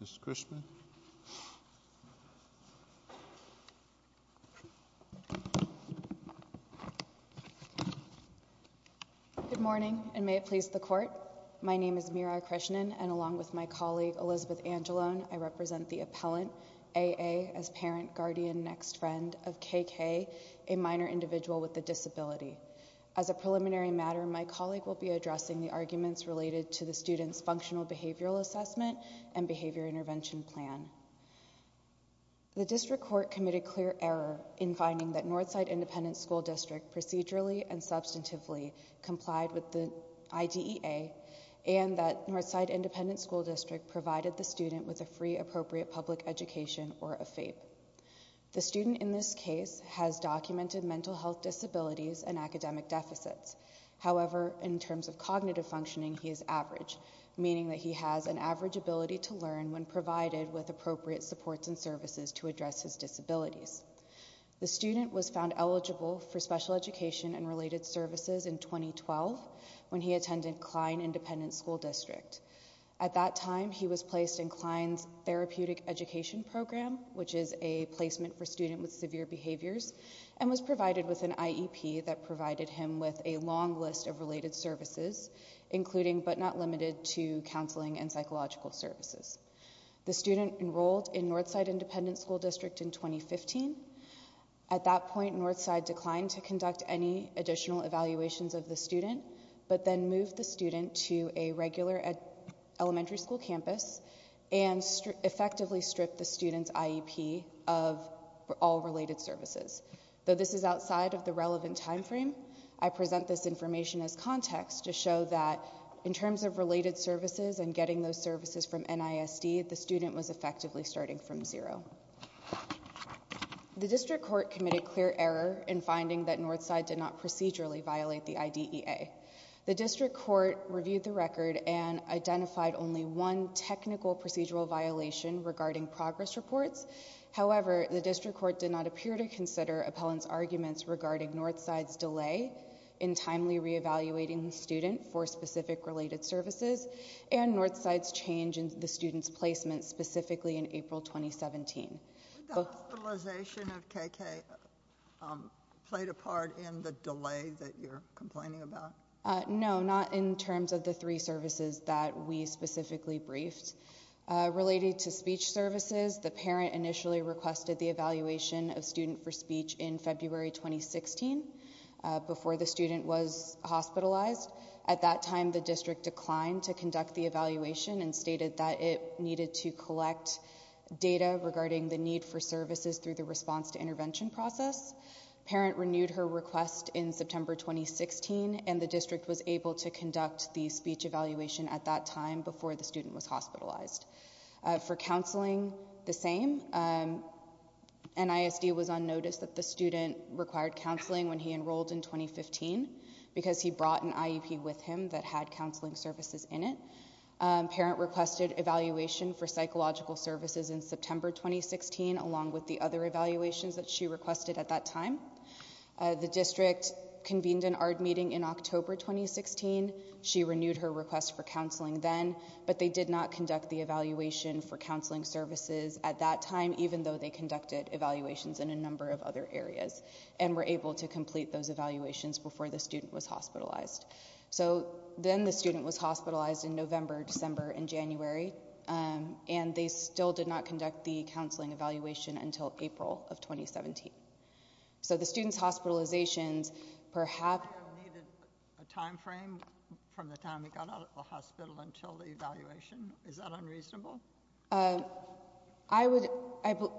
Mr. Krishnan. Good morning and may it please the court. My name is Meera Krishnan and along with my colleague Elizabeth Angelone, I represent the appellant A. A. as parent, guardian, next friend of K. K., a minor individual with a disability. As a preliminary matter, my colleague will be addressing the arguments related to the student's functional behavioral assessment and behavior intervention plan. The district court committed clear error in finding that Northside Independent School District procedurally and substantively complied with the IDEA and that Northside Independent School District provided the student with a free appropriate public education or a FAPE. The student in this case has documented mental health disabilities and academic deficits. However, in terms of cognitive functioning, he is average, meaning that he has an average ability to learn when provided with appropriate supports and services to address his disabilities. The student was found eligible for special education and related services in 2012 when he attended Kline Independent School District. At that time, he was placed in Kline's Therapeutic Education Program, which is a placement for students with severe behaviors and was provided with an IEP that provided him with a long list of related services, including but not limited to counseling and psychological services. The student enrolled in Northside Independent School District in 2015. At that point, Northside declined to approve the evaluations of the student, but then moved the student to a regular elementary school campus and effectively stripped the student's IEP of all related services. Though this is outside of the relevant time frame, I present this information as context to show that in terms of related services and getting those services from NISD, the student was effectively starting from zero. The district court committed clear error in finding that the student violated the IDEA. The district court reviewed the record and identified only one technical procedural violation regarding progress reports. However, the district court did not appear to consider appellant's arguments regarding Northside's delay in timely re-evaluating the student for specific related services and Northside's change in the student's placement specifically in April 2017. Did the hospitalization of KK play a part in the delay that you're complaining about? No, not in terms of the three services that we specifically briefed. Related to speech services, the parent initially requested the evaluation of student for speech in February 2016 before the student was hospitalized. At that time, the district declined to conduct the evaluation and stated that it needed to collect data regarding the need for services through the response to intervention process. Parent renewed her request in September 2016 and the district was able to conduct the speech evaluation at that time before the student was hospitalized. For counseling, the same. NISD was on notice that the student required counseling when he enrolled in 2015 because he brought an IEP with him that had counseling services in it. Parent requested evaluation for psychological services in September 2016 along with the other evaluations that she requested at that time. The district convened an ARD meeting in October 2016. She renewed her request for counseling then, but they did not conduct the evaluation for counseling services at that time even though they conducted evaluations in a number of other areas and were able to complete those evaluations before the student was hospitalized. So, then the student was hospitalized in November, December and January and they still did not conduct the counseling evaluation until April of 2017. So the student's hospitalizations perhaps... I have needed a time frame from the time he got out of the hospital until the evaluation. Is that unreasonable?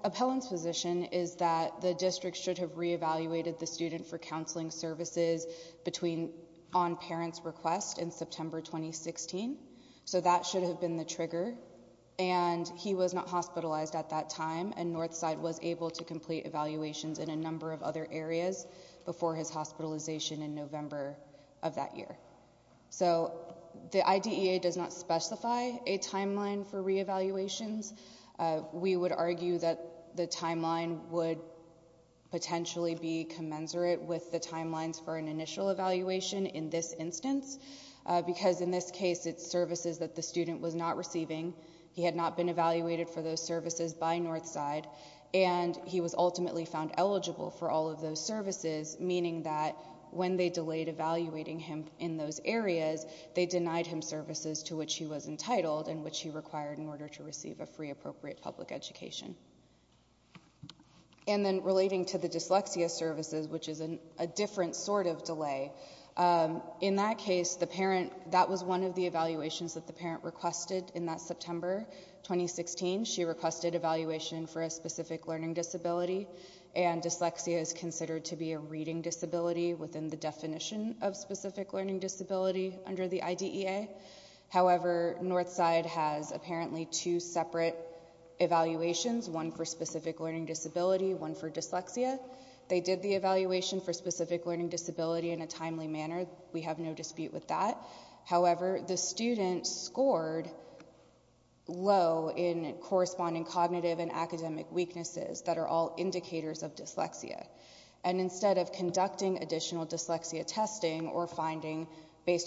Appellant's position is that the district should have re-evaluated the student for counseling services between on parent's request in September 2016. So that should have been the trigger and he was not hospitalized at that time and Northside was able to complete evaluations in a number of other areas before his hospitalization in November of that year. So, the IDEA does not specify a timeline for re-evaluations. We would argue that the timeline would potentially be commensurate with the timelines for an initial evaluation in this instance because in this case it's services that the student was not receiving. He had not been evaluated for those services by Northside and he was ultimately found eligible for all of those services meaning that when they delayed evaluating him in those areas, they denied him services to which he was entitled and which he required in order to receive a free appropriate public education. And then relating to the dyslexia services which is a different sort of delay. In that case, the parent... that was one of the evaluations that the parent requested in that September 2016. She requested evaluation for a specific learning disability and dyslexia is considered to be a reading disability within the definition of specific learning disability under the IDEA. However, Northside has apparently two separate evaluations, one for specific learning disability, one for dyslexia. They did the evaluation for specific learning disability in a timely manner. We have no dispute with that. However, the student scored low in corresponding cognitive and academic weaknesses that are all indicators of dyslexia. And instead of relying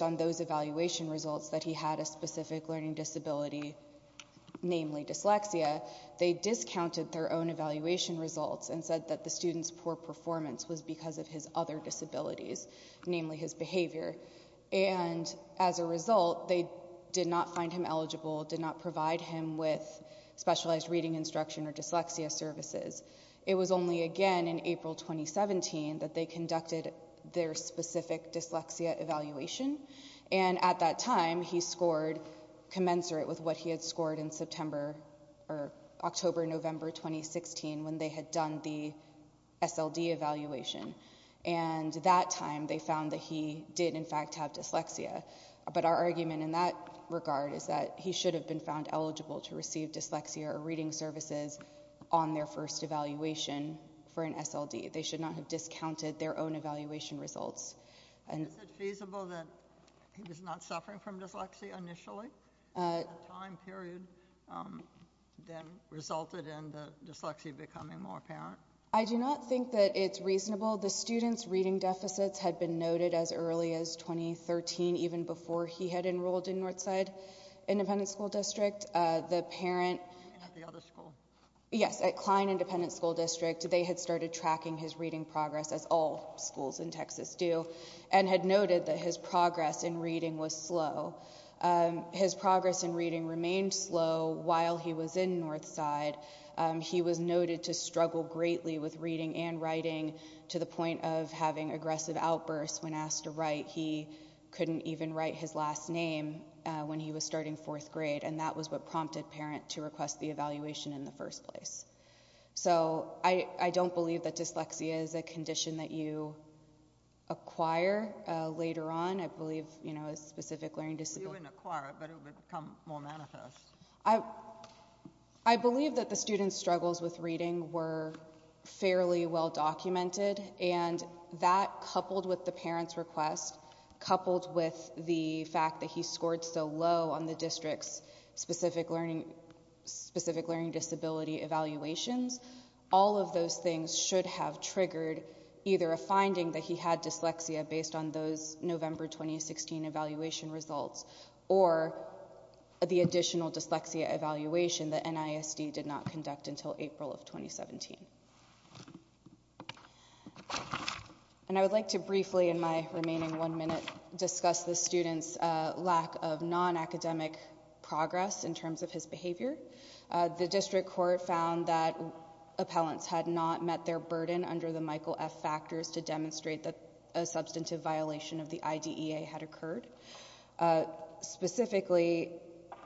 on those evaluation results that he had a specific learning disability, namely dyslexia, they discounted their own evaluation results and said that the student's poor performance was because of his other disabilities, namely his behavior. And as a result, they did not find him eligible, did not provide him with specialized reading instruction or dyslexia services. It was only again in April 2017 that they conducted their specific dyslexia evaluation. And at that time, he scored commensurate with what he had scored in September or October, November 2016 when they had done the SLD evaluation. And that time, they found that he did in fact have dyslexia. But our argument in that regard is that he should have been found eligible to receive dyslexia or reading services on their first evaluation for an SLD. They should not have discounted their own evaluation results. Is it feasible that he was not suffering from dyslexia initially? That time period then resulted in the dyslexia becoming more apparent? I do not think that it's reasonable. The student's reading deficits had been noted as early as 2013, even before he had enrolled in Northside Independent School District. The parent... At the other school? Yes, at Kline Independent School District, they had started tracking his reading progress as all schools in Texas do and had noted that his progress in reading was slow. His progress in reading remained slow while he was in Northside. He was noted to struggle greatly with reading and writing to the point of having aggressive outbursts when asked to write. He couldn't even write his last name when he was starting fourth grade. And that was what prompted parents to request the evaluation in the first place. So, I don't believe that dyslexia is a condition that you acquire later on. I believe, you know, a specific learning disability... If you didn't acquire it, it would become more manifest. I believe that the student's struggles with reading were fairly well documented and that coupled with the parent's request, coupled with the fact that he scored so low on the specific learning disability evaluations, all of those things should have triggered either a finding that he had dyslexia based on those November 2016 evaluation results or the additional dyslexia evaluation that NISD did not conduct until April of 2017. And I would like to briefly in my remaining one minute discuss the student's lack of non-academic progress in terms of his behavior. The district court found that appellants had not met their burden under the Michael F. Factors to demonstrate that a substantive violation of the IDEA had occurred. Specifically,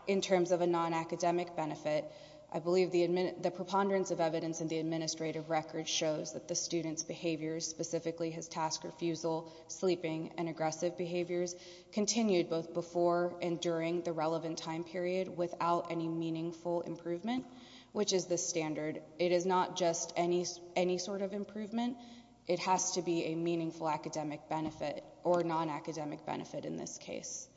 in terms of a non-academic benefit, I believe the preponderance of evidence in the administrative record shows that the student's behaviors, specifically his task refusal, sleeping, and aggressive behaviors, continued both before and during the relevant time period without any meaningful improvement, which is the standard. It is not just any sort of improvement. It has to be a meaningful academic benefit or non-academic benefit in this case.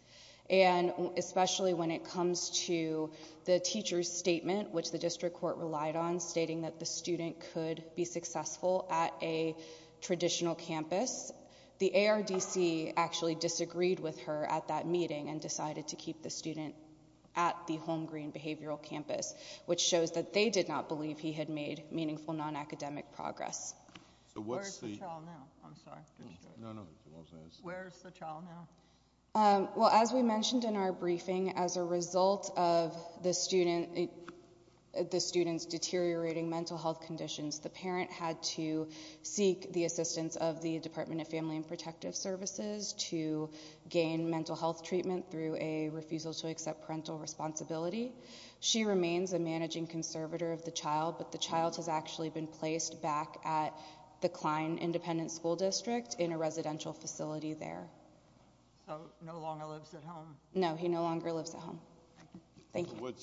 And especially when it comes to the teacher's statement, which the district court relied on, stating that the student could be successful at a traditional campus, the ARDC actually disagreed with her at that meeting and decided to keep the student at the Holmgreen Behavioral Campus, which shows that they did not believe he had made meaningful non-academic progress. So where's the child now? I'm sorry. No, no. Where's the child now? Well, as we mentioned in our briefing, as a result of the student's deteriorating mental health conditions, the parent had to seek the assistance of the Department of Family and Protective Services to gain mental health treatment through a refusal to accept parental responsibility. She remains a managing conservator of the child, but the child has actually been So no longer lives at home? No, he no longer lives at home. Thank you.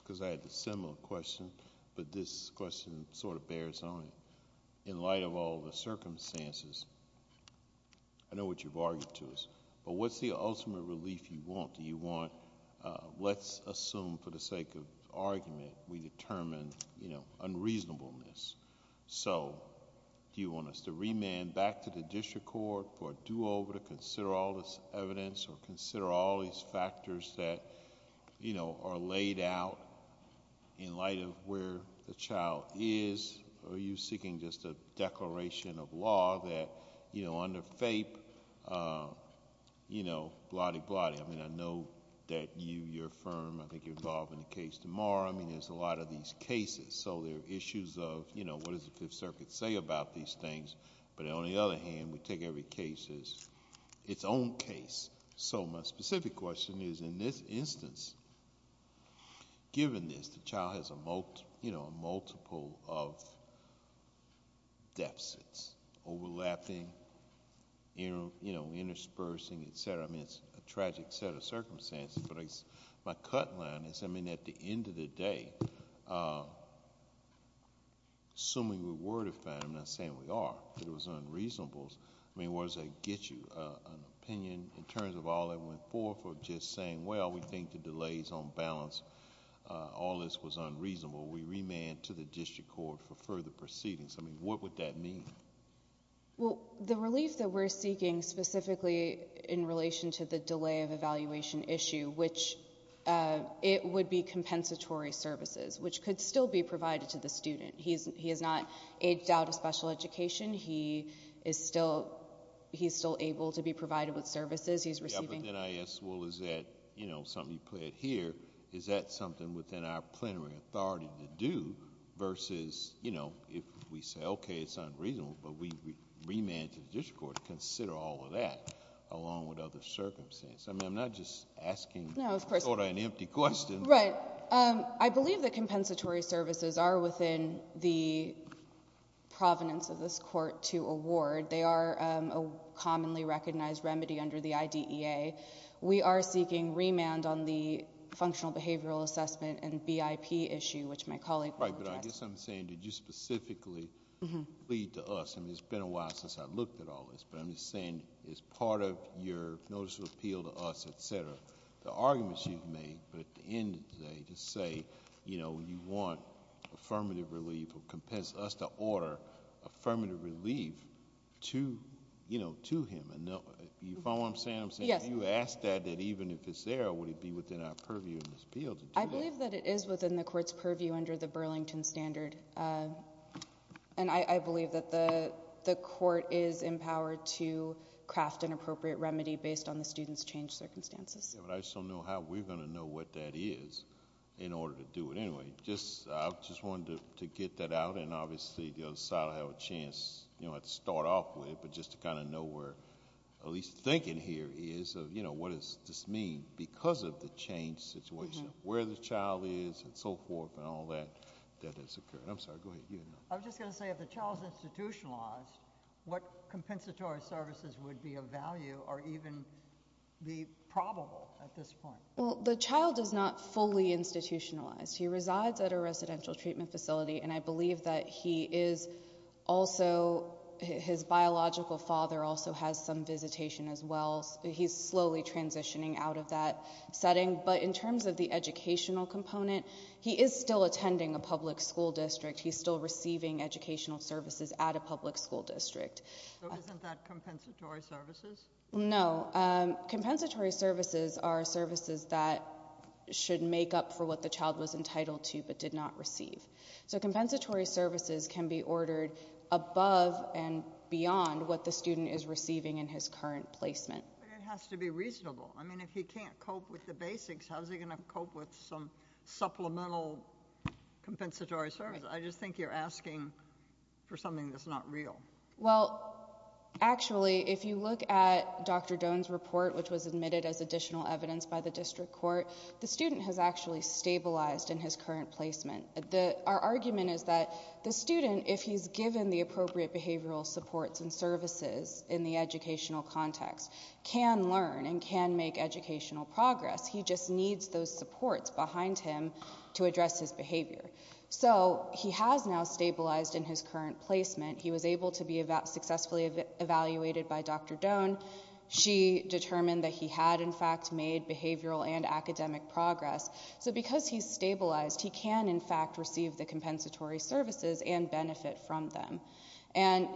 Because I had a similar question, but this question sort of bears on it. In light of all the circumstances, I know what you've argued to us, but what's the ultimate relief you want? Do you want, let's assume for the sake of argument, we determine, you know, consider all this evidence, or consider all these factors that are laid out in light of where the child is, or are you seeking just a declaration of law that under FAPE, you know, blotty, blotty. I mean, I know that you, your firm, I think you're involved in the case tomorrow. I mean, there's a lot of these cases, so there are issues of what does the Fifth Circuit say about these things, but on the other hand, we take every case as its own case. So my specific question is, in this instance, given this, the child has a multiple of deficits, overlapping, you know, interspersing, et cetera. I mean, it's a tragic set of circumstances, but my cut line is, I mean, at the end of the day, assuming we were to find, I'm not saying we are, but it was unreasonable. I mean, where does that get you? An opinion in terms of all that went forth, or just saying, well, we think the delays on balance, all this was unreasonable. We remand to the district court for further proceedings. I mean, what would that mean? Well, the relief that we're seeking specifically in relation to the delay of evaluation issue, which it would be compensatory services, which could still be provided to the student. He has not aged out of special education. He is still able to be provided with services he's receiving. Yeah, but then I ask, well, is that, you know, something you put here, is that something within our plenary authority to do, versus, you know, if we say, okay, it's unreasonable, but we remand to the district court to consider all of that, along with other circumstances. I mean, I'm not just asking sort of an empty question. Right. I believe that compensatory services are within the provenance of this court to award. They are a commonly recognized remedy under the IDEA. We are seeking remand on the functional behavioral assessment and BIP issue, which my colleague will address. Right, but I guess I'm saying, did you specifically plead to us? I mean, it's been a while since I've looked at all this, but I'm just saying, as part of your notice of appeal to us, et cetera, to end it today, to say, you know, you want affirmative relief or compensate us to order affirmative relief to, you know, to him. You follow what I'm saying? Yes. I'm saying if you ask that, that even if it's there, would it be within our purview in this appeal to do that? I believe that it is within the court's purview under the Burlington Standard, and I believe that the court is empowered to craft an appropriate remedy based on the student's changed circumstances. Yeah, but I just don't know how we're going to know what that is in order to do it. Anyway, I just wanted to get that out, and obviously the other side will have a chance, you know, to start off with it, but just to kind of know where at least thinking here is of, you know, what does this mean because of the changed situation, where the child is and so forth and all that that has occurred. I'm sorry, go ahead. You didn't know. I was just going to say, if the child is institutionalized, what compensatory services would be of value or even be probable at this point? Well, the child is not fully institutionalized. He resides at a residential treatment facility, and I believe that he is also, his biological father also has some visitation as well. He's slowly transitioning out of that setting, but in terms of the educational component, he is still attending a public school district. He's still receiving educational services at a public school district. So isn't that compensatory services? No. Compensatory services are services that should make up for what the child was entitled to but did not receive. So compensatory services can be ordered above and beyond what the student is receiving in his current placement. But it has to be reasonable. I mean, if he can't cope with the basics, how is he going to cope with some supplemental compensatory services? I just think you're asking for something that's not real. Well, actually, if you look at Dr. Doan's report, which was admitted as additional evidence by the district court, the student has actually stabilized in his current placement. Our argument is that the student, if he's given the appropriate behavioral supports and services in the educational context, can learn and can make educational progress. He just needs those supports behind him to address his behavior. So he has now stabilized in his current placement. He was able to be successfully evaluated by Dr. Doan. She determined that he had, in fact, made behavioral and academic progress. So because he's stabilized, he can, in fact, receive the compensatory services and benefit from them. And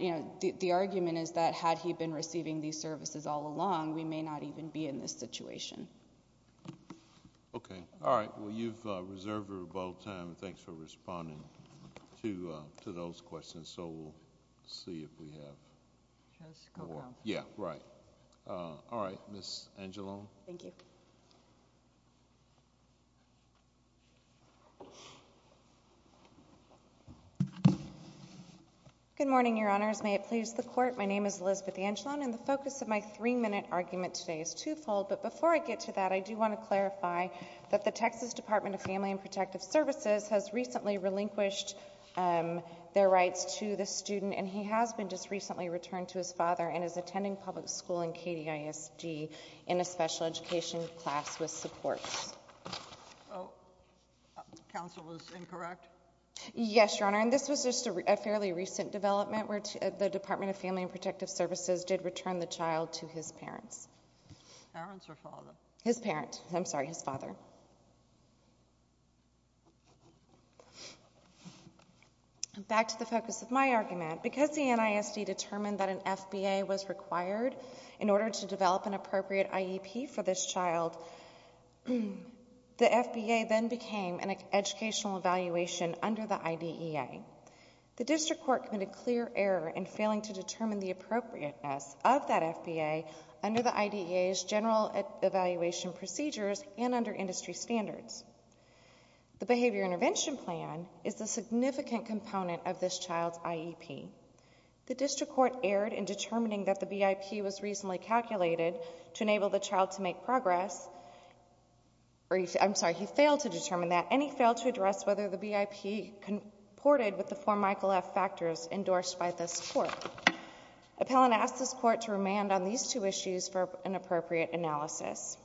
the argument is that had he been receiving these services all along, we may not even be in this situation. Okay. All right. Well, you've reserved your about time. Thanks for responding to those questions. So we'll see if we have more. Just go down. Yeah, right. All right. Ms. Angelone. Thank you. Good morning, Your Honors. May it please the Court. My name is Elizabeth Angelone, and the focus of my three-minute argument today is twofold. But before I get to that, I do want to clarify that the Texas Department of Family and Protective Services has recently relinquished their rights to the student, and he has been just recently returned to his father and is attending public school in KDISD in a special education class with supports. Oh, counsel is incorrect? Yes, Your Honor. And this was just a fairly recent development where the Department of Family and Protective Services has returned the child to his parents. Parents or father? His parent. I'm sorry, his father. Back to the focus of my argument. Because the NISD determined that an FBA was required in order to develop an appropriate IEP for this child, the FBA then became an educational evaluation under the IDEA. The District Court committed clear error in failing to determine the appropriateness of that FBA under the IDEA's general evaluation procedures and under industry standards. The Behavior Intervention Plan is a significant component of this child's IEP. The District Court erred in determining that the BIP was reasonably calculated to enable the child to make progress. I'm sorry, he failed to determine that, and he failed to address whether the BIP comported with the four Michael F. factors endorsed by this Court. Appellant asked this Court to remand on these two issues for an appropriate analysis.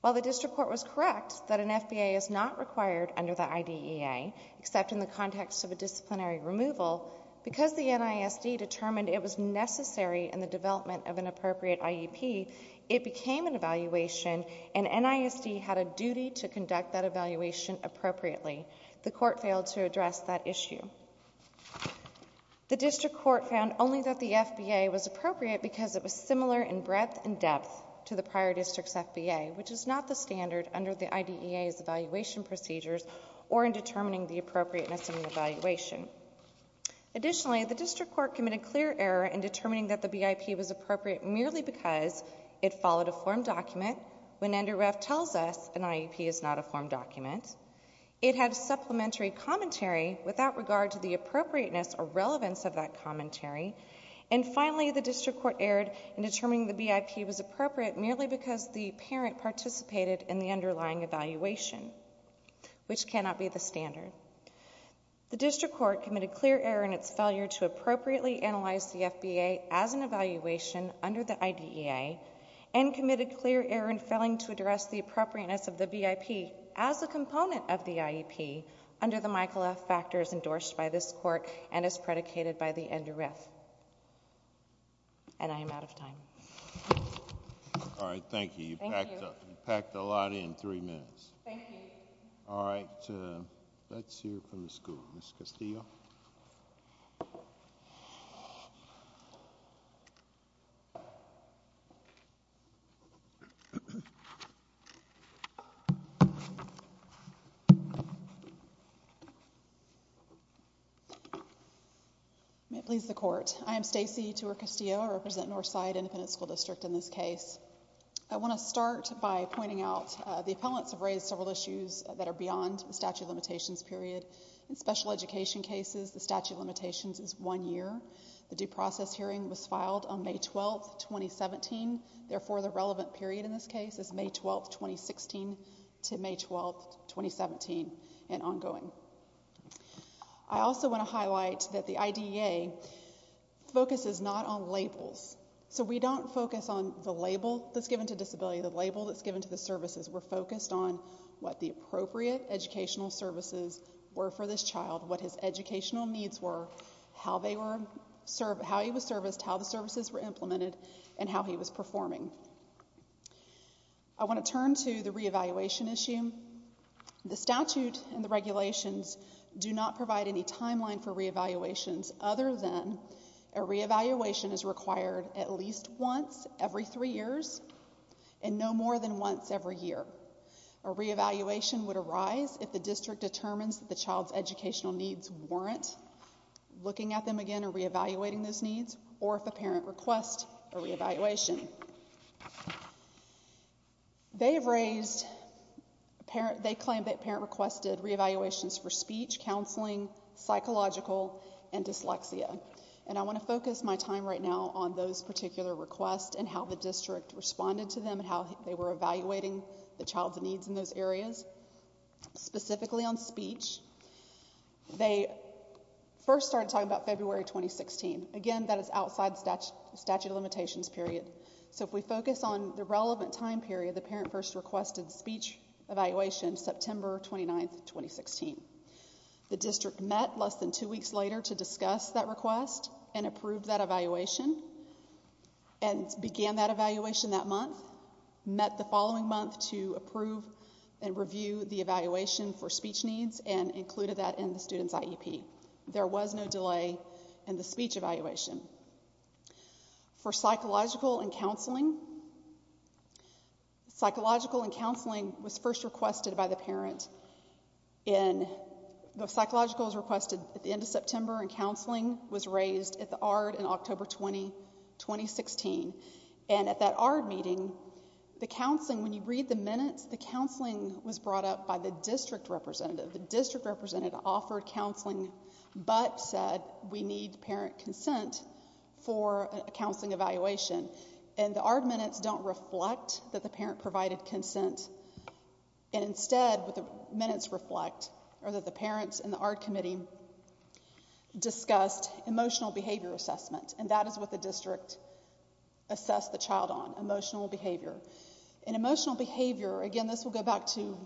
While the District Court was correct that an FBA is not required under the IDEA, except in the context of a disciplinary removal, because the NISD determined it was necessary in the development of an appropriate IEP, it became an evaluation, and NISD had a duty to conduct that evaluation appropriately. The Court failed to address that issue. The District Court found only that the FBA was appropriate because it was similar in breadth and depth to the prior District's FBA, which is not the standard under the IDEA's evaluation procedures or in determining the appropriateness of an evaluation. Additionally, the District Court committed clear error in determining that the BIP was appropriate merely because it followed a formed document when NDIRF tells us an IEP is not a formed document, it had supplementary commentary without regard to the appropriateness or relevance of that commentary, and finally, the District Court erred in determining the BIP was appropriate merely because the parent participated in the underlying evaluation, which cannot be the standard. The District Court committed clear error in its failure to appropriately analyze the FBA as an evaluation under the IDEA and committed clear error in failing to address the appropriateness of the BIP as a component of the IEP under the Michael F. Factors endorsed by this Court and as predicated by the NDIRF. And I am out of time. All right. Thank you. You packed a lot in three minutes. Thank you. All right. Let's hear from the school. Ms. Castillo. May it please the Court. I am Stacy Tour-Castillo. I represent Northside Independent School District in this case. I want to start by pointing out the appellants have raised several issues that are beyond the statute of limitations period. In special education cases, the statute of limitations is one year. The due process hearing was filed on May 12, 2017. Therefore, the relevant period in this case is May 12, 2016 to May 12, 2017 and ongoing. I also want to highlight that the IDEA focuses not on labels. So we don't focus on the label that's given to disability, the label that's given to the services. We're focused on what the appropriate educational services were for this child, what his educational needs were, how he was serviced, how the services were implemented, and how he was performing. I want to turn to the re-evaluation issue. The statute and the regulations do not provide any timeline for re-evaluations other than a re-evaluation is required at least once every three years and no more than once every year. A re-evaluation would arise if the district determines that the child's educational needs warrant looking at them again or re-evaluating those needs or if a parent requests a re-evaluation. They claim that parent requested re-evaluations for speech, counseling, psychological, and dyslexia. And I want to focus my time right now on those particular requests and how the district responded to them and how they were evaluating the child's needs in those areas. Specifically on speech, they first started talking about February 2016. Again, that is outside the statute of limitations period. So if we focus on the relevant time period, the parent first requested speech evaluation September 29th, 2016. The district met less than two weeks later to discuss that request and approved that evaluation and began that evaluation that month, met the following month to approve and review the evaluation for speech needs and included that in the student's IEP. There was no delay in the speech evaluation. For psychological and counseling, psychological and counseling was first requested by the parent in, the psychological was requested at the end of September and counseling was raised at the ARD in October 2016. And at that ARD meeting, the counseling, when you read the minutes, the counseling was brought up by the district representative. The district representative offered counseling but said we need parent consent for a counseling evaluation. And the ARD minutes don't reflect that the parent provided consent. And instead, the minutes reflect or that the parents in the ARD committee discussed emotional behavior assessment. And that is what the district assessed the child on, emotional behavior. And emotional behavior, again, this will go back to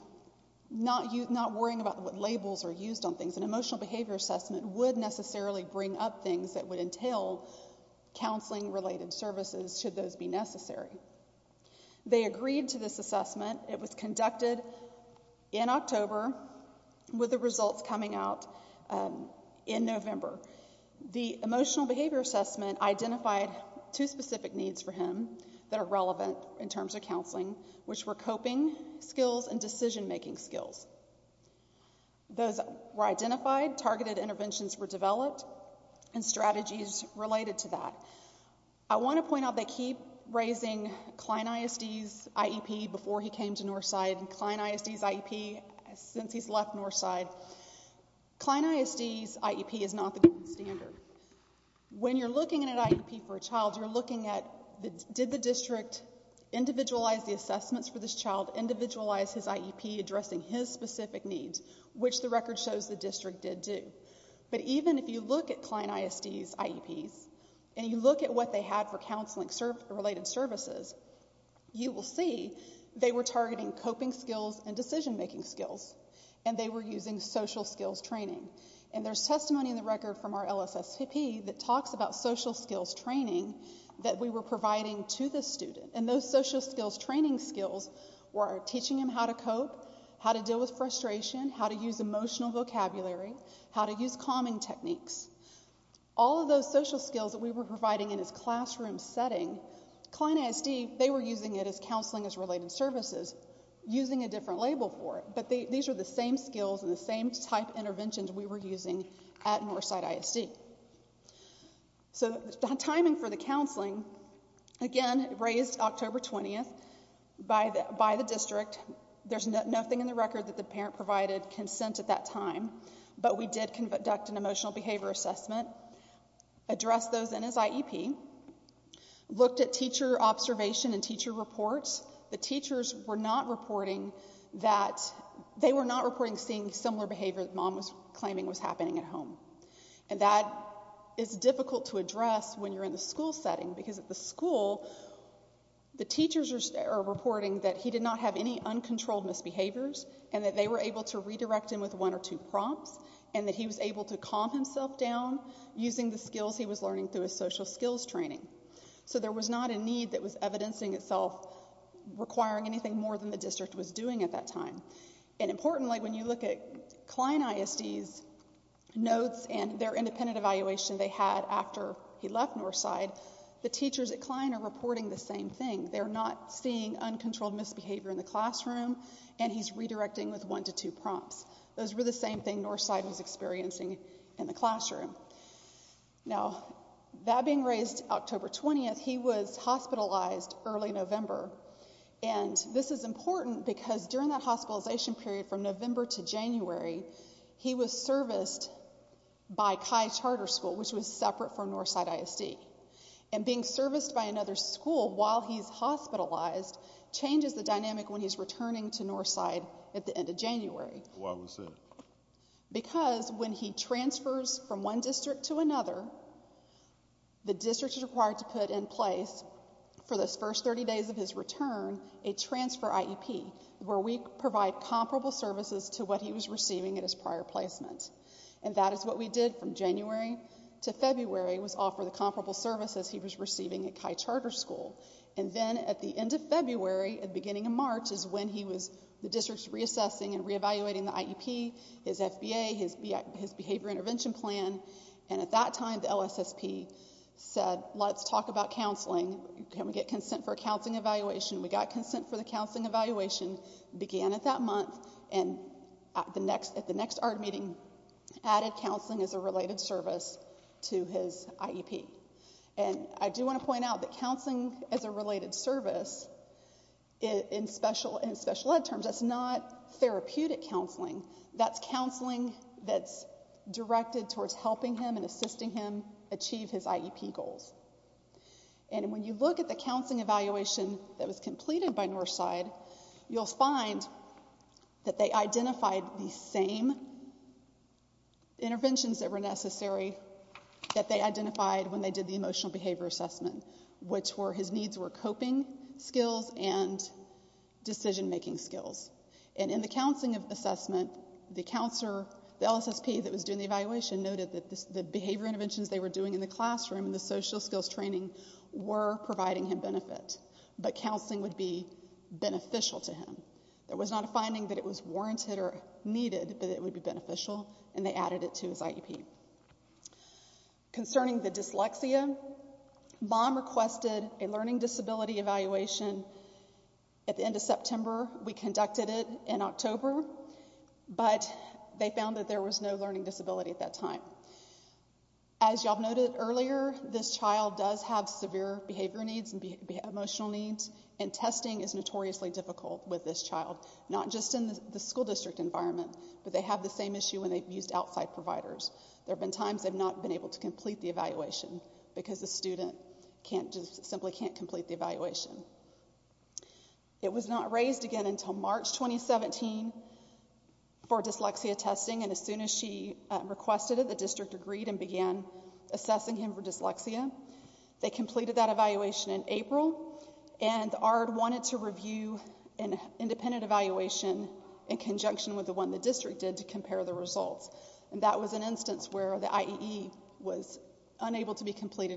not worrying about what labels are used on things. An emotional behavior assessment would necessarily bring up things that would entail counseling-related services should those be necessary. They agreed to this assessment. It was conducted in October with the results coming out in November. The emotional behavior assessment identified two specific needs for counseling, which were coping skills and decision-making skills. Those were identified, targeted interventions were developed, and strategies related to that. I want to point out they keep raising Cline ISD's IEP before he came to Northside and Cline ISD's IEP since he's left Northside. Cline ISD's IEP is not the standard. When you're looking at an IEP for a child, you're looking at did the district individualize the assessments for this child, individualize his IEP addressing his specific needs, which the record shows the district did do. But even if you look at Cline ISD's IEPs and you look at what they had for counseling-related services, you will see they were targeting coping skills and decision-making skills. And they were using social skills training. And there's testimony in the record from our social skills training that we were providing to the student. And those social skills training skills were teaching him how to cope, how to deal with frustration, how to use emotional vocabulary, how to use calming techniques. All of those social skills that we were providing in his classroom setting, Cline ISD, they were using it as counseling-related services, using a different label for it. But these are the same skills and the same type of interventions we were using at Northside ISD. So the timing for the counseling, again, raised October 20th by the district. There's nothing in the record that the parent provided consent at that time. But we did conduct an emotional behavior assessment, addressed those in his IEP, looked at teacher observation and teacher reports. The teachers were not reporting that they were not reporting seeing similar behavior that mom was claiming was happening at home. And that is difficult to address when you're in the school setting because at the school, the teachers are reporting that he did not have any uncontrolled misbehaviors and that they were able to redirect him with one or two prompts and that he was able to calm himself down using the skills he was learning through his social skills training. So there was not a need that was evidencing itself requiring anything more than the district was doing at that time. And importantly, when you look at Klein ISD's notes and their independent evaluation they had after he left Northside, the teachers at Klein are reporting the same thing. They're not seeing uncontrolled misbehavior in the classroom and he's redirecting with one to two prompts. Those were the same thing Northside was experiencing in the classroom. Now, that being raised October 20th, he was hospitalized early November. And this is important because during that hospitalization period from November to January, he was serviced by Kai Charter School which was separate from Northside ISD. And being serviced by another school while he's hospitalized changes the dynamic when he's returning to Northside at the end of January. Why was that? Because when he transfers from one district to another, the district is required to put in place for those first 30 days of his return a transfer IEP where we provide comparable services to what he was receiving at his prior placement. And that is what we did from January to February was offer the comparable services he was receiving at Kai Charter School. And then at the end of February and beginning of March is when he was the district's reassessing and reevaluating the IEP, his FBA, his behavior intervention plan. And at that time the LSSP said, let's talk about counseling. Can we get consent for a counseling evaluation? We got consent for the counseling evaluation, began at that month, and at the next ARD meeting added counseling as a related service to his IEP. And I do want to point out that counseling as a related service in special ed terms, that's not therapeutic counseling. That's directed towards helping him and assisting him achieve his IEP goals. And when you look at the counseling evaluation that was completed by Northside, you'll find that they identified the same interventions that were necessary that they identified when they did the emotional behavior assessment, which were his needs were coping skills and decision-making skills. And in the counseling assessment, the counselor, the LSSP that was doing the evaluation noted that the behavior interventions they were doing in the classroom and the social skills training were providing him benefit. But counseling would be beneficial to him. There was not a finding that it was warranted or needed, but it would be beneficial, and they added it to his IEP. Concerning the dyslexia, MOM requested a learning disability evaluation at the end of September. We conducted it in October, but they found that there was no learning disability at that time. As y'all noted earlier, this child does have severe behavior needs and emotional needs, and testing is notoriously difficult with this child, not just in the school district environment, but they have the same issue when they've used outside providers. There have been times they've not been able to complete the evaluation because the student simply can't complete the evaluation. It was not raised again until March 2017 for dyslexia testing, and as soon as she requested it, the district agreed and began assessing him for dyslexia. They completed that evaluation in April, and ARD wanted to review an independent evaluation in conjunction with the one the district did to compare the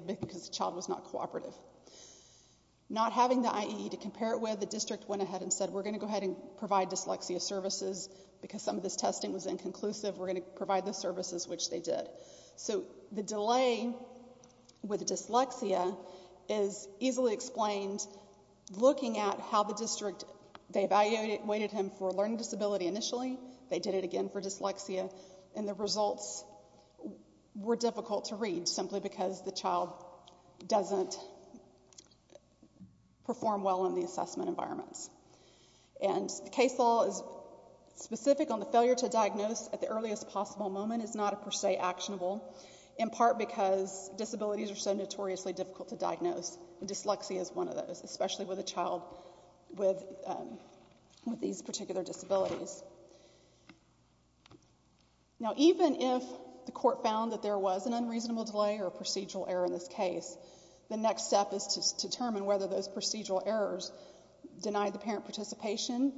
because the child was not cooperative. Not having the IE to compare it with, the district went ahead and said, we're going to go ahead and provide dyslexia services because some of this testing was inconclusive. We're going to provide the services, which they did. So the delay with dyslexia is easily explained looking at how the district, they evaluated him for a learning disability initially. They did it again for dyslexia, and the results were difficult to read simply because the child doesn't perform well in the assessment environments. And the case law is specific on the failure to diagnose at the earliest possible moment is not a per se actionable, in part because disabilities are so notoriously difficult to diagnose, and dyslexia is one of those, especially with a child with these found that there was an unreasonable delay or procedural error in this case. The next step is to determine whether those procedural errors denied the parent participation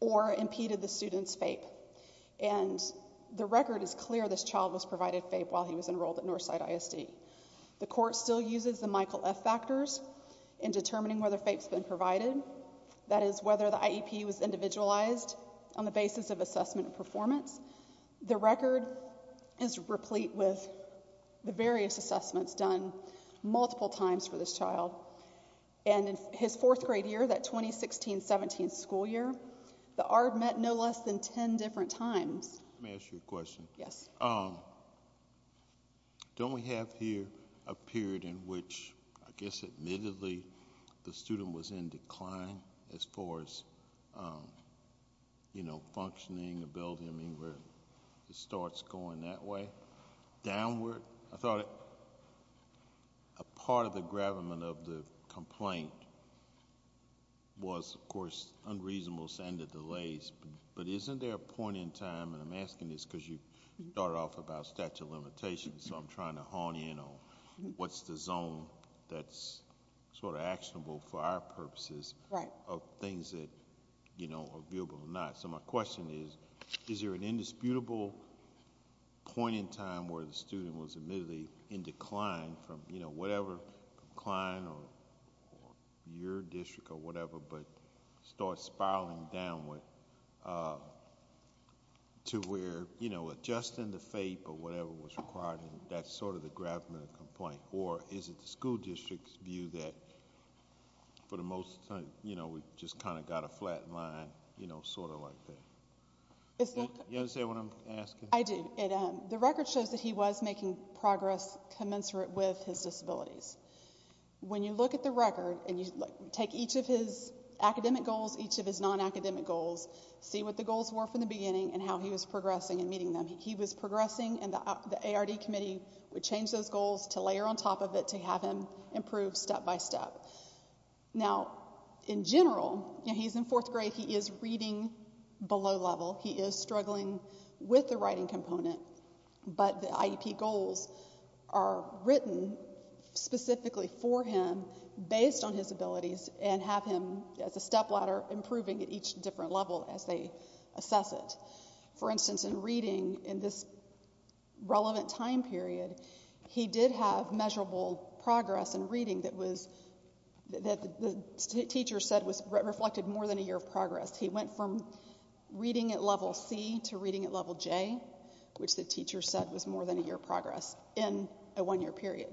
or impeded the student's FAPE. And the record is clear this child was provided FAPE while he was enrolled at Northside ISD. The court still uses the Michael F factors in determining whether FAPE has been provided, that is whether the IEP was individualized on the basis of FAPE. And the case law is replete with the various assessments done multiple times for this child. And in his fourth grade year, that 2016-17 school year, the ARD met no less than 10 different times. Let me ask you a question. Yes. Don't we have here a period in which I guess admittedly the student was in decline as far as, you know, functioning, ability, I mean, where it starts going that way. Downward, I thought a part of the gravamen of the complaint was, of course, unreasonable and the delays, but isn't there a point in time, and I'm asking this because you started off about statute of limitations, so I'm trying to hone in on what's the zone that's sort of actionable for our purposes of things that, you know, are viewable or not. So my question is, is there an indisputable point in time where the student was admittedly in decline from, you know, whatever, decline or your district or whatever, but starts spiraling downward to where, you know, adjusting the FAPE or whatever was required, and that's sort of the gravamen of the complaint, or is it the school district's view that for the most time, you know, we just kind of got a flat line, you know, sort of like that? You understand what I'm asking? I do. The record shows that he was making progress commensurate with his disabilities. When you look at the record and you take each of his academic goals, each of his non-academic goals, see what the goals were from the beginning and how he was progressing and meeting them. He was progressing, and the ARD committee would change those goals to layer on top of it to have him improve step by step. Now, in general, you know, he's in fourth grade. He is reading below level. He is struggling with the writing component, but the IEP goals are written specifically for him based on his abilities and have him as a stepladder improving at each different level as they assess it. For instance, in reading, in this relevant time period, he did have measurable progress in reading that the teacher said was reflected more than a year of progress. He went from reading at level C to reading at level J, which the teacher said was more than a year of progress in a one-year period.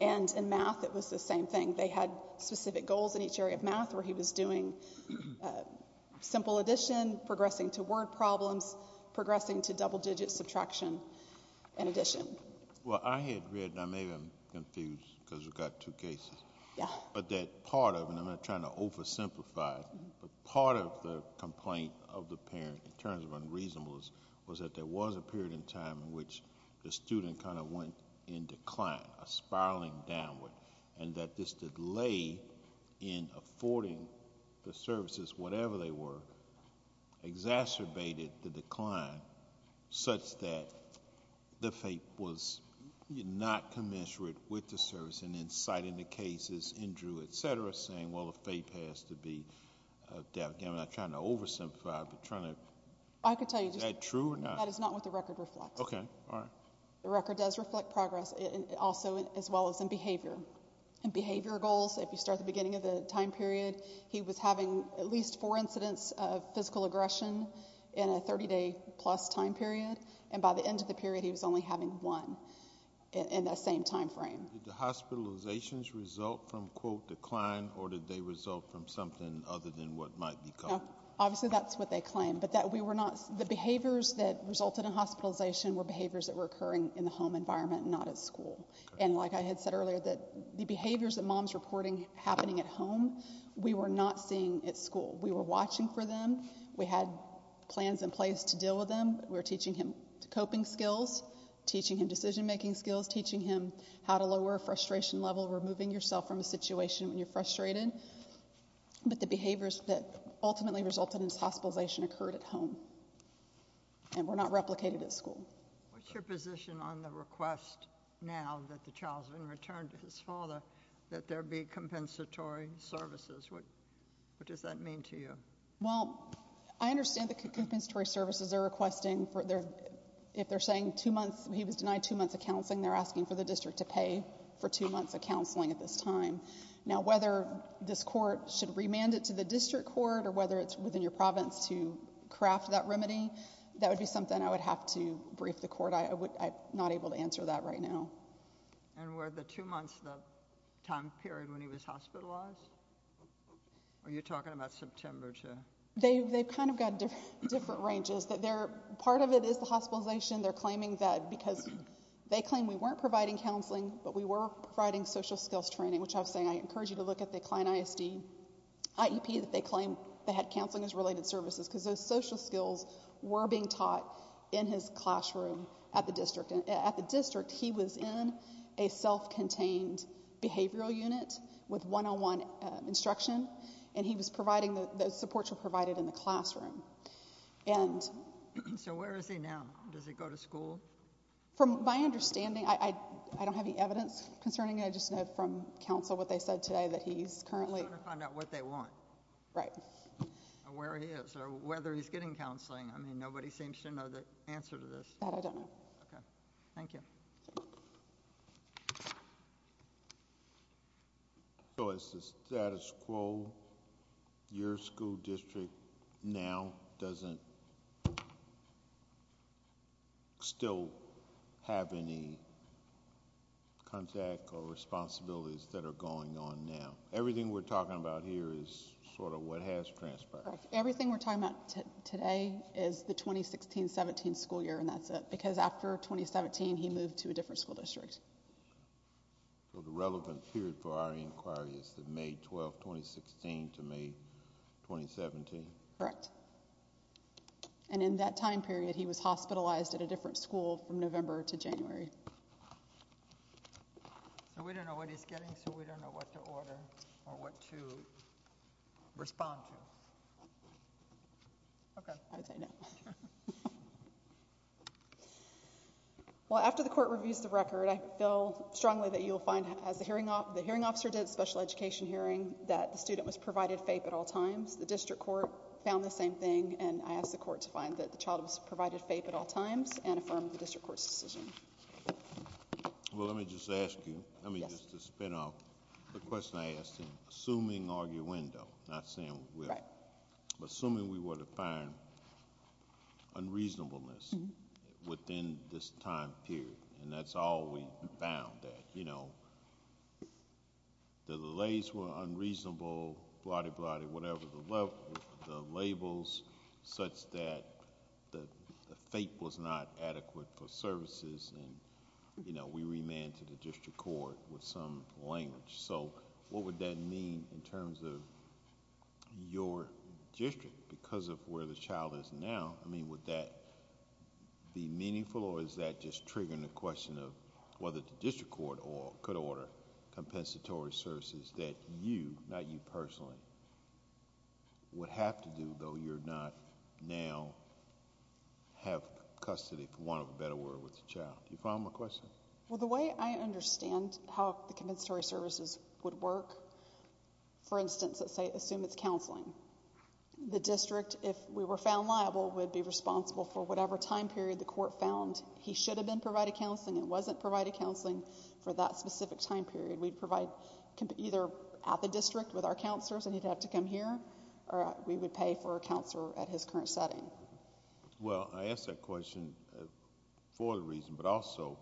And in math, it was the same thing. They had specific goals in each area of math where he was doing simple addition, progressing to word problems, progressing to double digit subtraction and addition. Well, I had read, and maybe I'm confused because we've got two cases, but that part of it, and I'm not trying to oversimplify it, but part of the complaint of the parent in terms of unreasonableness was that there was a period in time in which the student kind of went in decline, a spiraling downward, and that this delay in affording the services, whatever they were, exacerbated the decline such that the FAPE was not commensurate with the service and inciting the cases, injury, et cetera, saying, well, the FAPE has to be there. Again, I'm not trying to oversimplify it, but trying to... I could tell you just... Is that true or not? That is not what the record reflects. Okay. All right. The record does reflect progress also as well as in behavior. In behavior goals, if you start at the beginning of the time period, he was having at least four incidents of physical aggression in a 30-day-plus time period, and by the end of the period, he was only having one in that same time frame. Did the hospitalizations result from, quote, decline, or did they result from something other than what might be called... No. Obviously, that's what they claim, but that we were not... The behaviors that resulted in hospitalization were behaviors that were occurring in the home environment, not at school. Okay. And like I had said earlier, that the behaviors that mom's reporting happening at home, we were not seeing at school. We were watching for them. We had plans in place to deal with them. We were teaching him coping skills, teaching him decision-making skills, teaching him how to lower frustration level, removing yourself from a situation when you're frustrated, but the behaviors that ultimately resulted in his hospitalization occurred at home and were not replicated at school. What's your position on the request now that the child's been returned to his father, that there be compensatory services? What does that mean to you? Well, I understand the compensatory services they're requesting. If they're saying he was denied two months of counseling, they're asking for the district to pay for two months of counseling. Whether this court should remand it to the district court or whether it's within your province to craft that remedy, that would be something I would have to brief the court. I'm not able to answer that right now. And were the two months the time period when he was hospitalized? Are you talking about September to... They've kind of got different ranges. Part of it is the hospitalization. They're claiming that because they claim we weren't providing counseling, but we were providing social skills training, which I was saying I encourage you to look at the client ISD IEP that they claim they had counseling as related services, because those social skills were being taught in his classroom at the district. At the district, he was in a self-contained behavioral unit with one-on-one instruction, and he was providing... Those supports were provided in the classroom. So where is he now? Does he go to school? From my understanding, I don't have any evidence concerning it. I just know from counsel what they said today that he's currently... They just want to find out what they want. Right. And where he is or whether he's getting counseling. I mean, nobody seems to know the answer to this. That I don't know. Okay. Thank you. So is the status quo, your school district now doesn't still have any contact or responsibilities that are going on now? Everything we're talking about here is sort of what has transpired. Correct. Everything we're talking about today is the 2016-17 school year, and that's it, because after 2017, he moved to a different school district. So the relevant period for our inquiry is the May 12, 2016 to May 2017? Correct. And in that time period, he was hospitalized at a different school from November to January. So we don't know what he's getting, so we don't know what to order or what to respond to. Okay. I'd say no. Well, after the court reviews the record, I feel strongly that you'll find, as the hearing officer did at the special education hearing, that the student was provided FAPE at all times. The district court found the same thing, and I asked the court to find that the child was provided FAPE at all times and affirmed the district court's decision. Well, let me just ask you. Yes. Let me just spin off. The question I asked him, assuming arguendo, not saying will. Right. Assuming we were to find unreasonableness within this time period, and that's all we found, that the delays were unreasonable, blotty, blotty, whatever the labels, such that the FAPE was not adequate for services, and we remanded the district court with some language. What would that mean in terms of your district? Because of where the child is now, I mean, would that be meaningful, or is that just triggering the question of whether the district court could order compensatory services that you, not you personally, would have to do, though you're not now have custody, for want of a better word, with the child. Do you follow my question? Well, the way I understand how the compensatory services would work, for instance, let's say, assume it's counseling. The district, if we were found liable, would be responsible for whatever time period the court found he should have been provided counseling and wasn't provided counseling for that specific time period. We'd provide either at the district with our counselors, and he'd have to come here, or we would pay for a counselor at his current setting. Well, I ask that question for the reason, but also,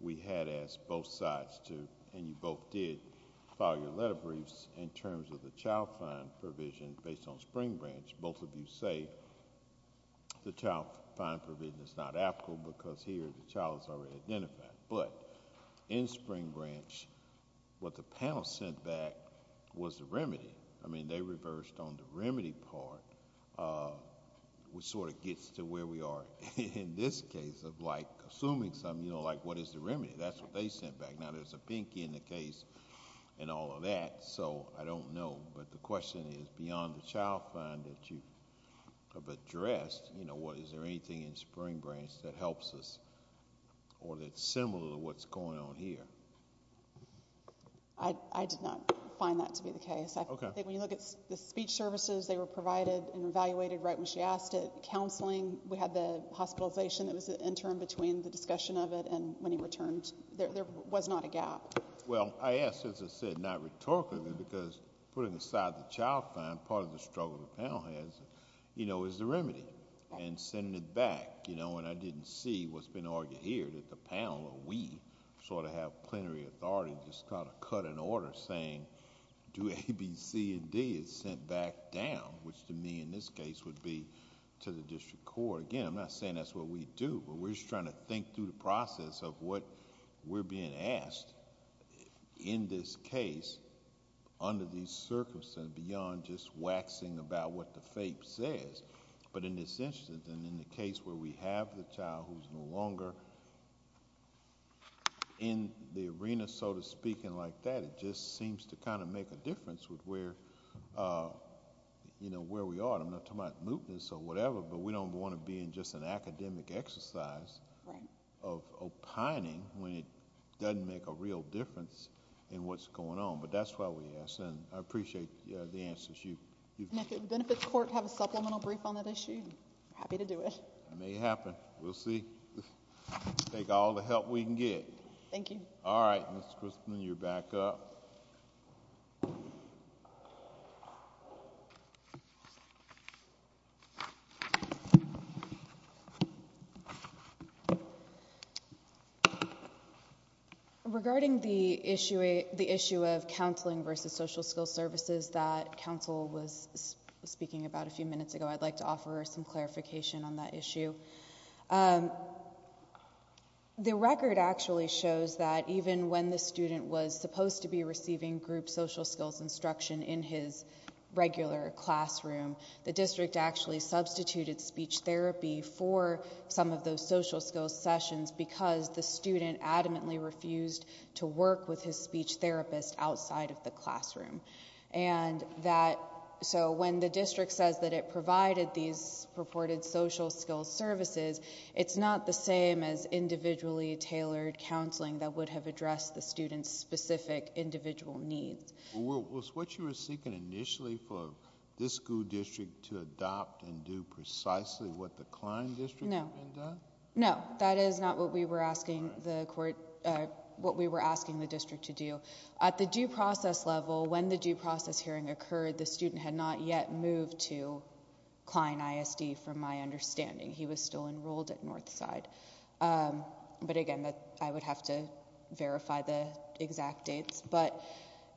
we had asked both sides to, and you both did, file your letter briefs in terms of the child fine provision based on Spring Branch. Both of you say the child fine provision is not applicable because here the child is already identified, but in Spring Branch, what the panel sent back was the remedy. I mean, they reversed on the remedy part, which sort of gets to where we are in this case of assuming something, like what is the remedy? That's what they sent back. Now, there's a pinky in the case and all of that, so I don't know, but the question is, beyond the child fine that you have addressed, is there anything in Spring Branch that helps us, or that's similar to what's going on here? I did not find that to be the case. I think when you look at the speech services, they were provided and evaluated right when she asked it. Counseling, we had the hospitalization that was the interim between the discussion of it and when he returned. There was not a gap. Well, I ask, as I said, not rhetorically, because putting aside the child fine, part of the struggle the panel has, you know, is the remedy, and sending it back, you know, and I didn't see what's been argued here, that the panel, or we, sort of have plenary authority to just kind of cut an order saying, do A, B, C, and D is sent back down, which to me in this case would be to the district court. Again, I'm not saying that's what we do, but we're just trying to think through the process of what we're being asked in this case under these circumstances beyond just waxing about what the child is, and we're not going to have a child who's no longer in the arena, so to speak, and like that, it just seems to kind of make a difference with where, you know, where we are. I'm not talking about mootness or whatever, but we don't want to be in just an academic exercise of opining when it doesn't make a real difference in what's going on, but that's why we ask, and I appreciate the answers you've given. And if the benefits court have a supplemental brief on that issue, I'm happy to do it. It may happen. We'll see. Take all the help we can get. Thank you. All right, Ms. Christman, you're back up. Regarding the issue of counseling versus social skills services that counsel was speaking about a few minutes ago, I'd like to offer some clarification on that issue. The record actually shows that even when the student was supposed to be receiving group social skills instruction in his regular classroom, the district actually substituted speech therapy for some of those social skills sessions because the student adamantly refused to work with his speech therapist outside of the provided these purported social skills services, it's not the same as individually tailored counseling that would have addressed the student's specific individual needs. Was what you were seeking initially for this school district to adopt and do precisely what the Klein district had been doing? No. That is not what we were asking the court... what we were asking the district to do. At the due process level, when the due process hearing occurred, the student had not yet moved to Klein ISD from my understanding. He was still enrolled at Northside. But again, I would have to verify the exact dates. But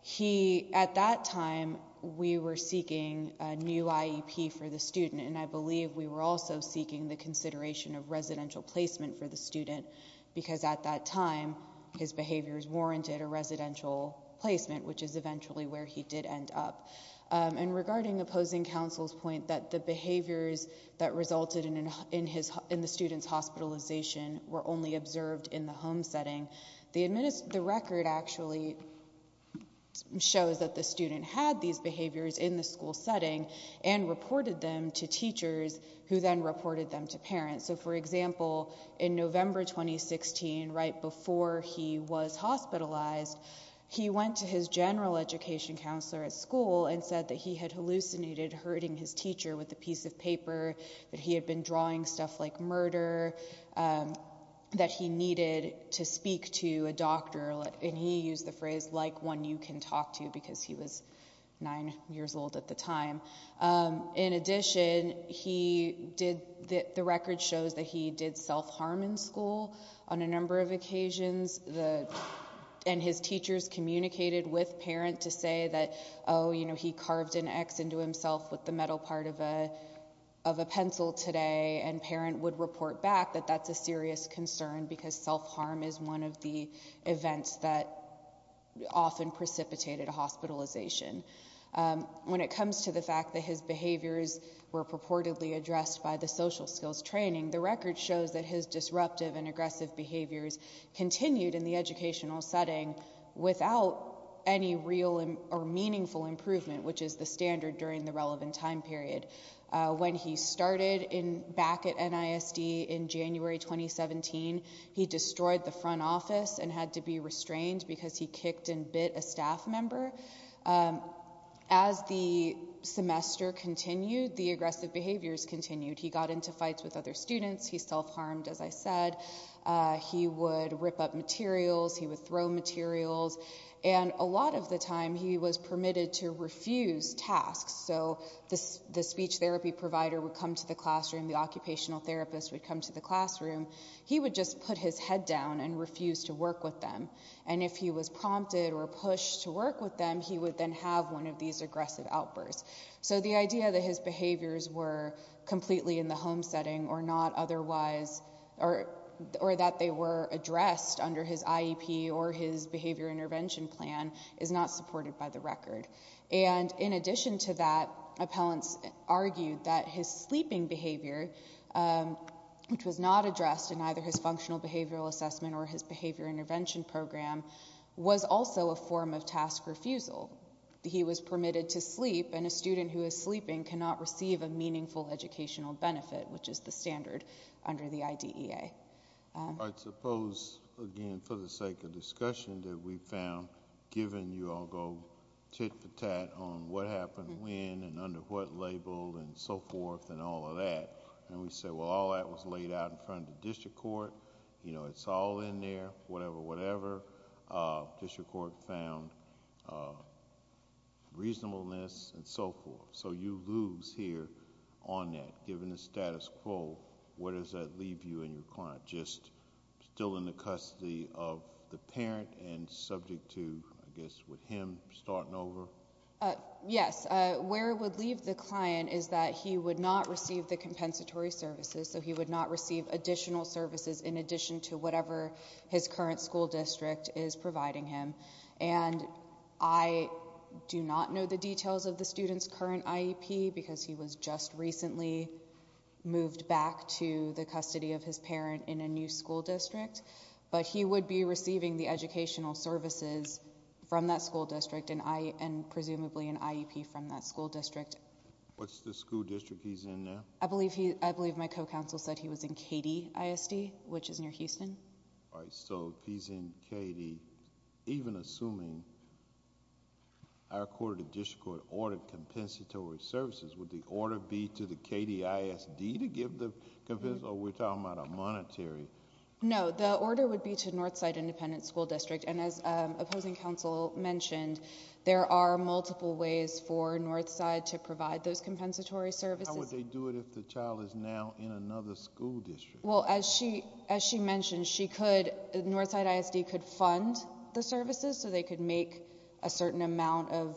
he... at that time, we were seeking a new IEP for the student, and I believe we were also seeking the consideration of residential placement for the student because at that time, his behaviors warranted a residential placement, which is And regarding opposing counsel's point that the behaviors that resulted in the student's hospitalization were only observed in the home setting, the record actually shows that the student had these behaviors in the school setting and reported them to teachers who then reported them to parents. So for example, in November 2016, right before he was hospitalized, he went to his general education counselor at school and said that he had hallucinated hurting his teacher with a piece of paper, that he had been drawing stuff like murder, that he needed to speak to a doctor, and he used the phrase, like one you can talk to, because he was nine years old at the time. In addition, he did... the record shows that he did self-harm in school on a number of occasions, and his teachers communicated with parents to say that, oh, you know, he carved an X into himself with the metal part of a pencil today, and parents would report back that that's a serious concern because self-harm is one of the events that often precipitated hospitalization. When it comes to the fact that his behaviors were purportedly addressed by the social skills training, the record shows that his disruptive and aggressive behaviors did not result in any real or meaningful improvement, which is the standard during the relevant time period. When he started back at NISD in January 2017, he destroyed the front office and had to be restrained because he kicked and bit a staff member. As the semester continued, the aggressive behaviors continued. He got into fights with other students. He self-harmed, as I said, with other materials, and a lot of the time he was permitted to refuse tasks, so the speech therapy provider would come to the classroom, the occupational therapist would come to the classroom. He would just put his head down and refuse to work with them, and if he was prompted or pushed to work with them, he would then have one of these aggressive outbursts. So the idea that his behaviors were completely in the home setting or not otherwise... or that they were addressed under his IEP or his behavior intervention plan is not supported by the record. And in addition to that, appellants argued that his sleeping behavior, which was not addressed in either his functional behavioral assessment or his behavior intervention program, was also a form of task refusal. He was permitted to sleep, and a student who is sleeping cannot receive a I suppose, again, for the sake of discussion, that we found, given you all go tit-for-tat on what happened when and under what label and so forth and all of that, and we say, well, all that was laid out in front of the district court, it's all in there, whatever, whatever, district court found reasonableness and so forth. So you lose here on that, given the status quo, where does that leave you and your client? Just still in the custody of the parent and subject to, I guess, with him starting over? Yes. Where it would leave the client is that he would not receive the compensatory services, so he would not receive additional services in addition to whatever his current school district is providing him. And I do not know the details of the student's current IEP because he was just recently moved back to the custody of his parent in a new school district, but he would be receiving the educational services from that school district and presumably an IEP from that school district. What's the school district he's in now? I believe my co-counsel said he was in KD ISD, which is near Houston. All right, so if he's in KD, even assuming our court or the district court ordered compensatory services, would the order be to the KD ISD to give the compensatory, or we're talking about a monetary? No, the order would be to Northside Independent School District, and as opposing counsel mentioned, there are multiple ways for Northside to provide those compensatory services. How would they do it if the child is now in another school district? Well, as she mentioned, Northside ISD could fund the services, so they could make a certain amount of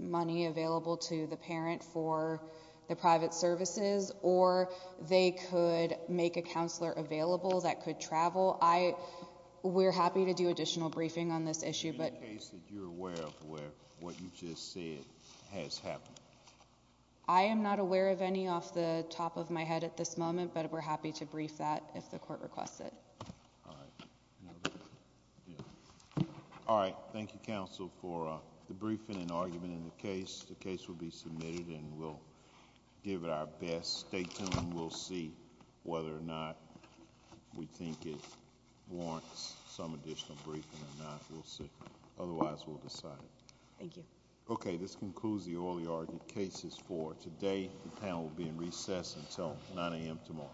money available to the parent for the private services, or they could make a counselor available that could travel. We're happy to do additional briefing on this issue, but... In the case that you're aware of where what you just said has happened? I am not aware of any off the top of my head at this moment, but we're happy to brief that if the court requests it. All right. Thank you, counsel, for the briefing and argument in the case. The case will be submitted, and we'll give it our best. Stay tuned. We'll see whether or not we think it warrants some additional briefing or not. We'll see. Otherwise, we'll decide. Thank you. Okay. This concludes the oral argument cases for today. The panel will be in recess until 9 a.m. tomorrow. Thank you.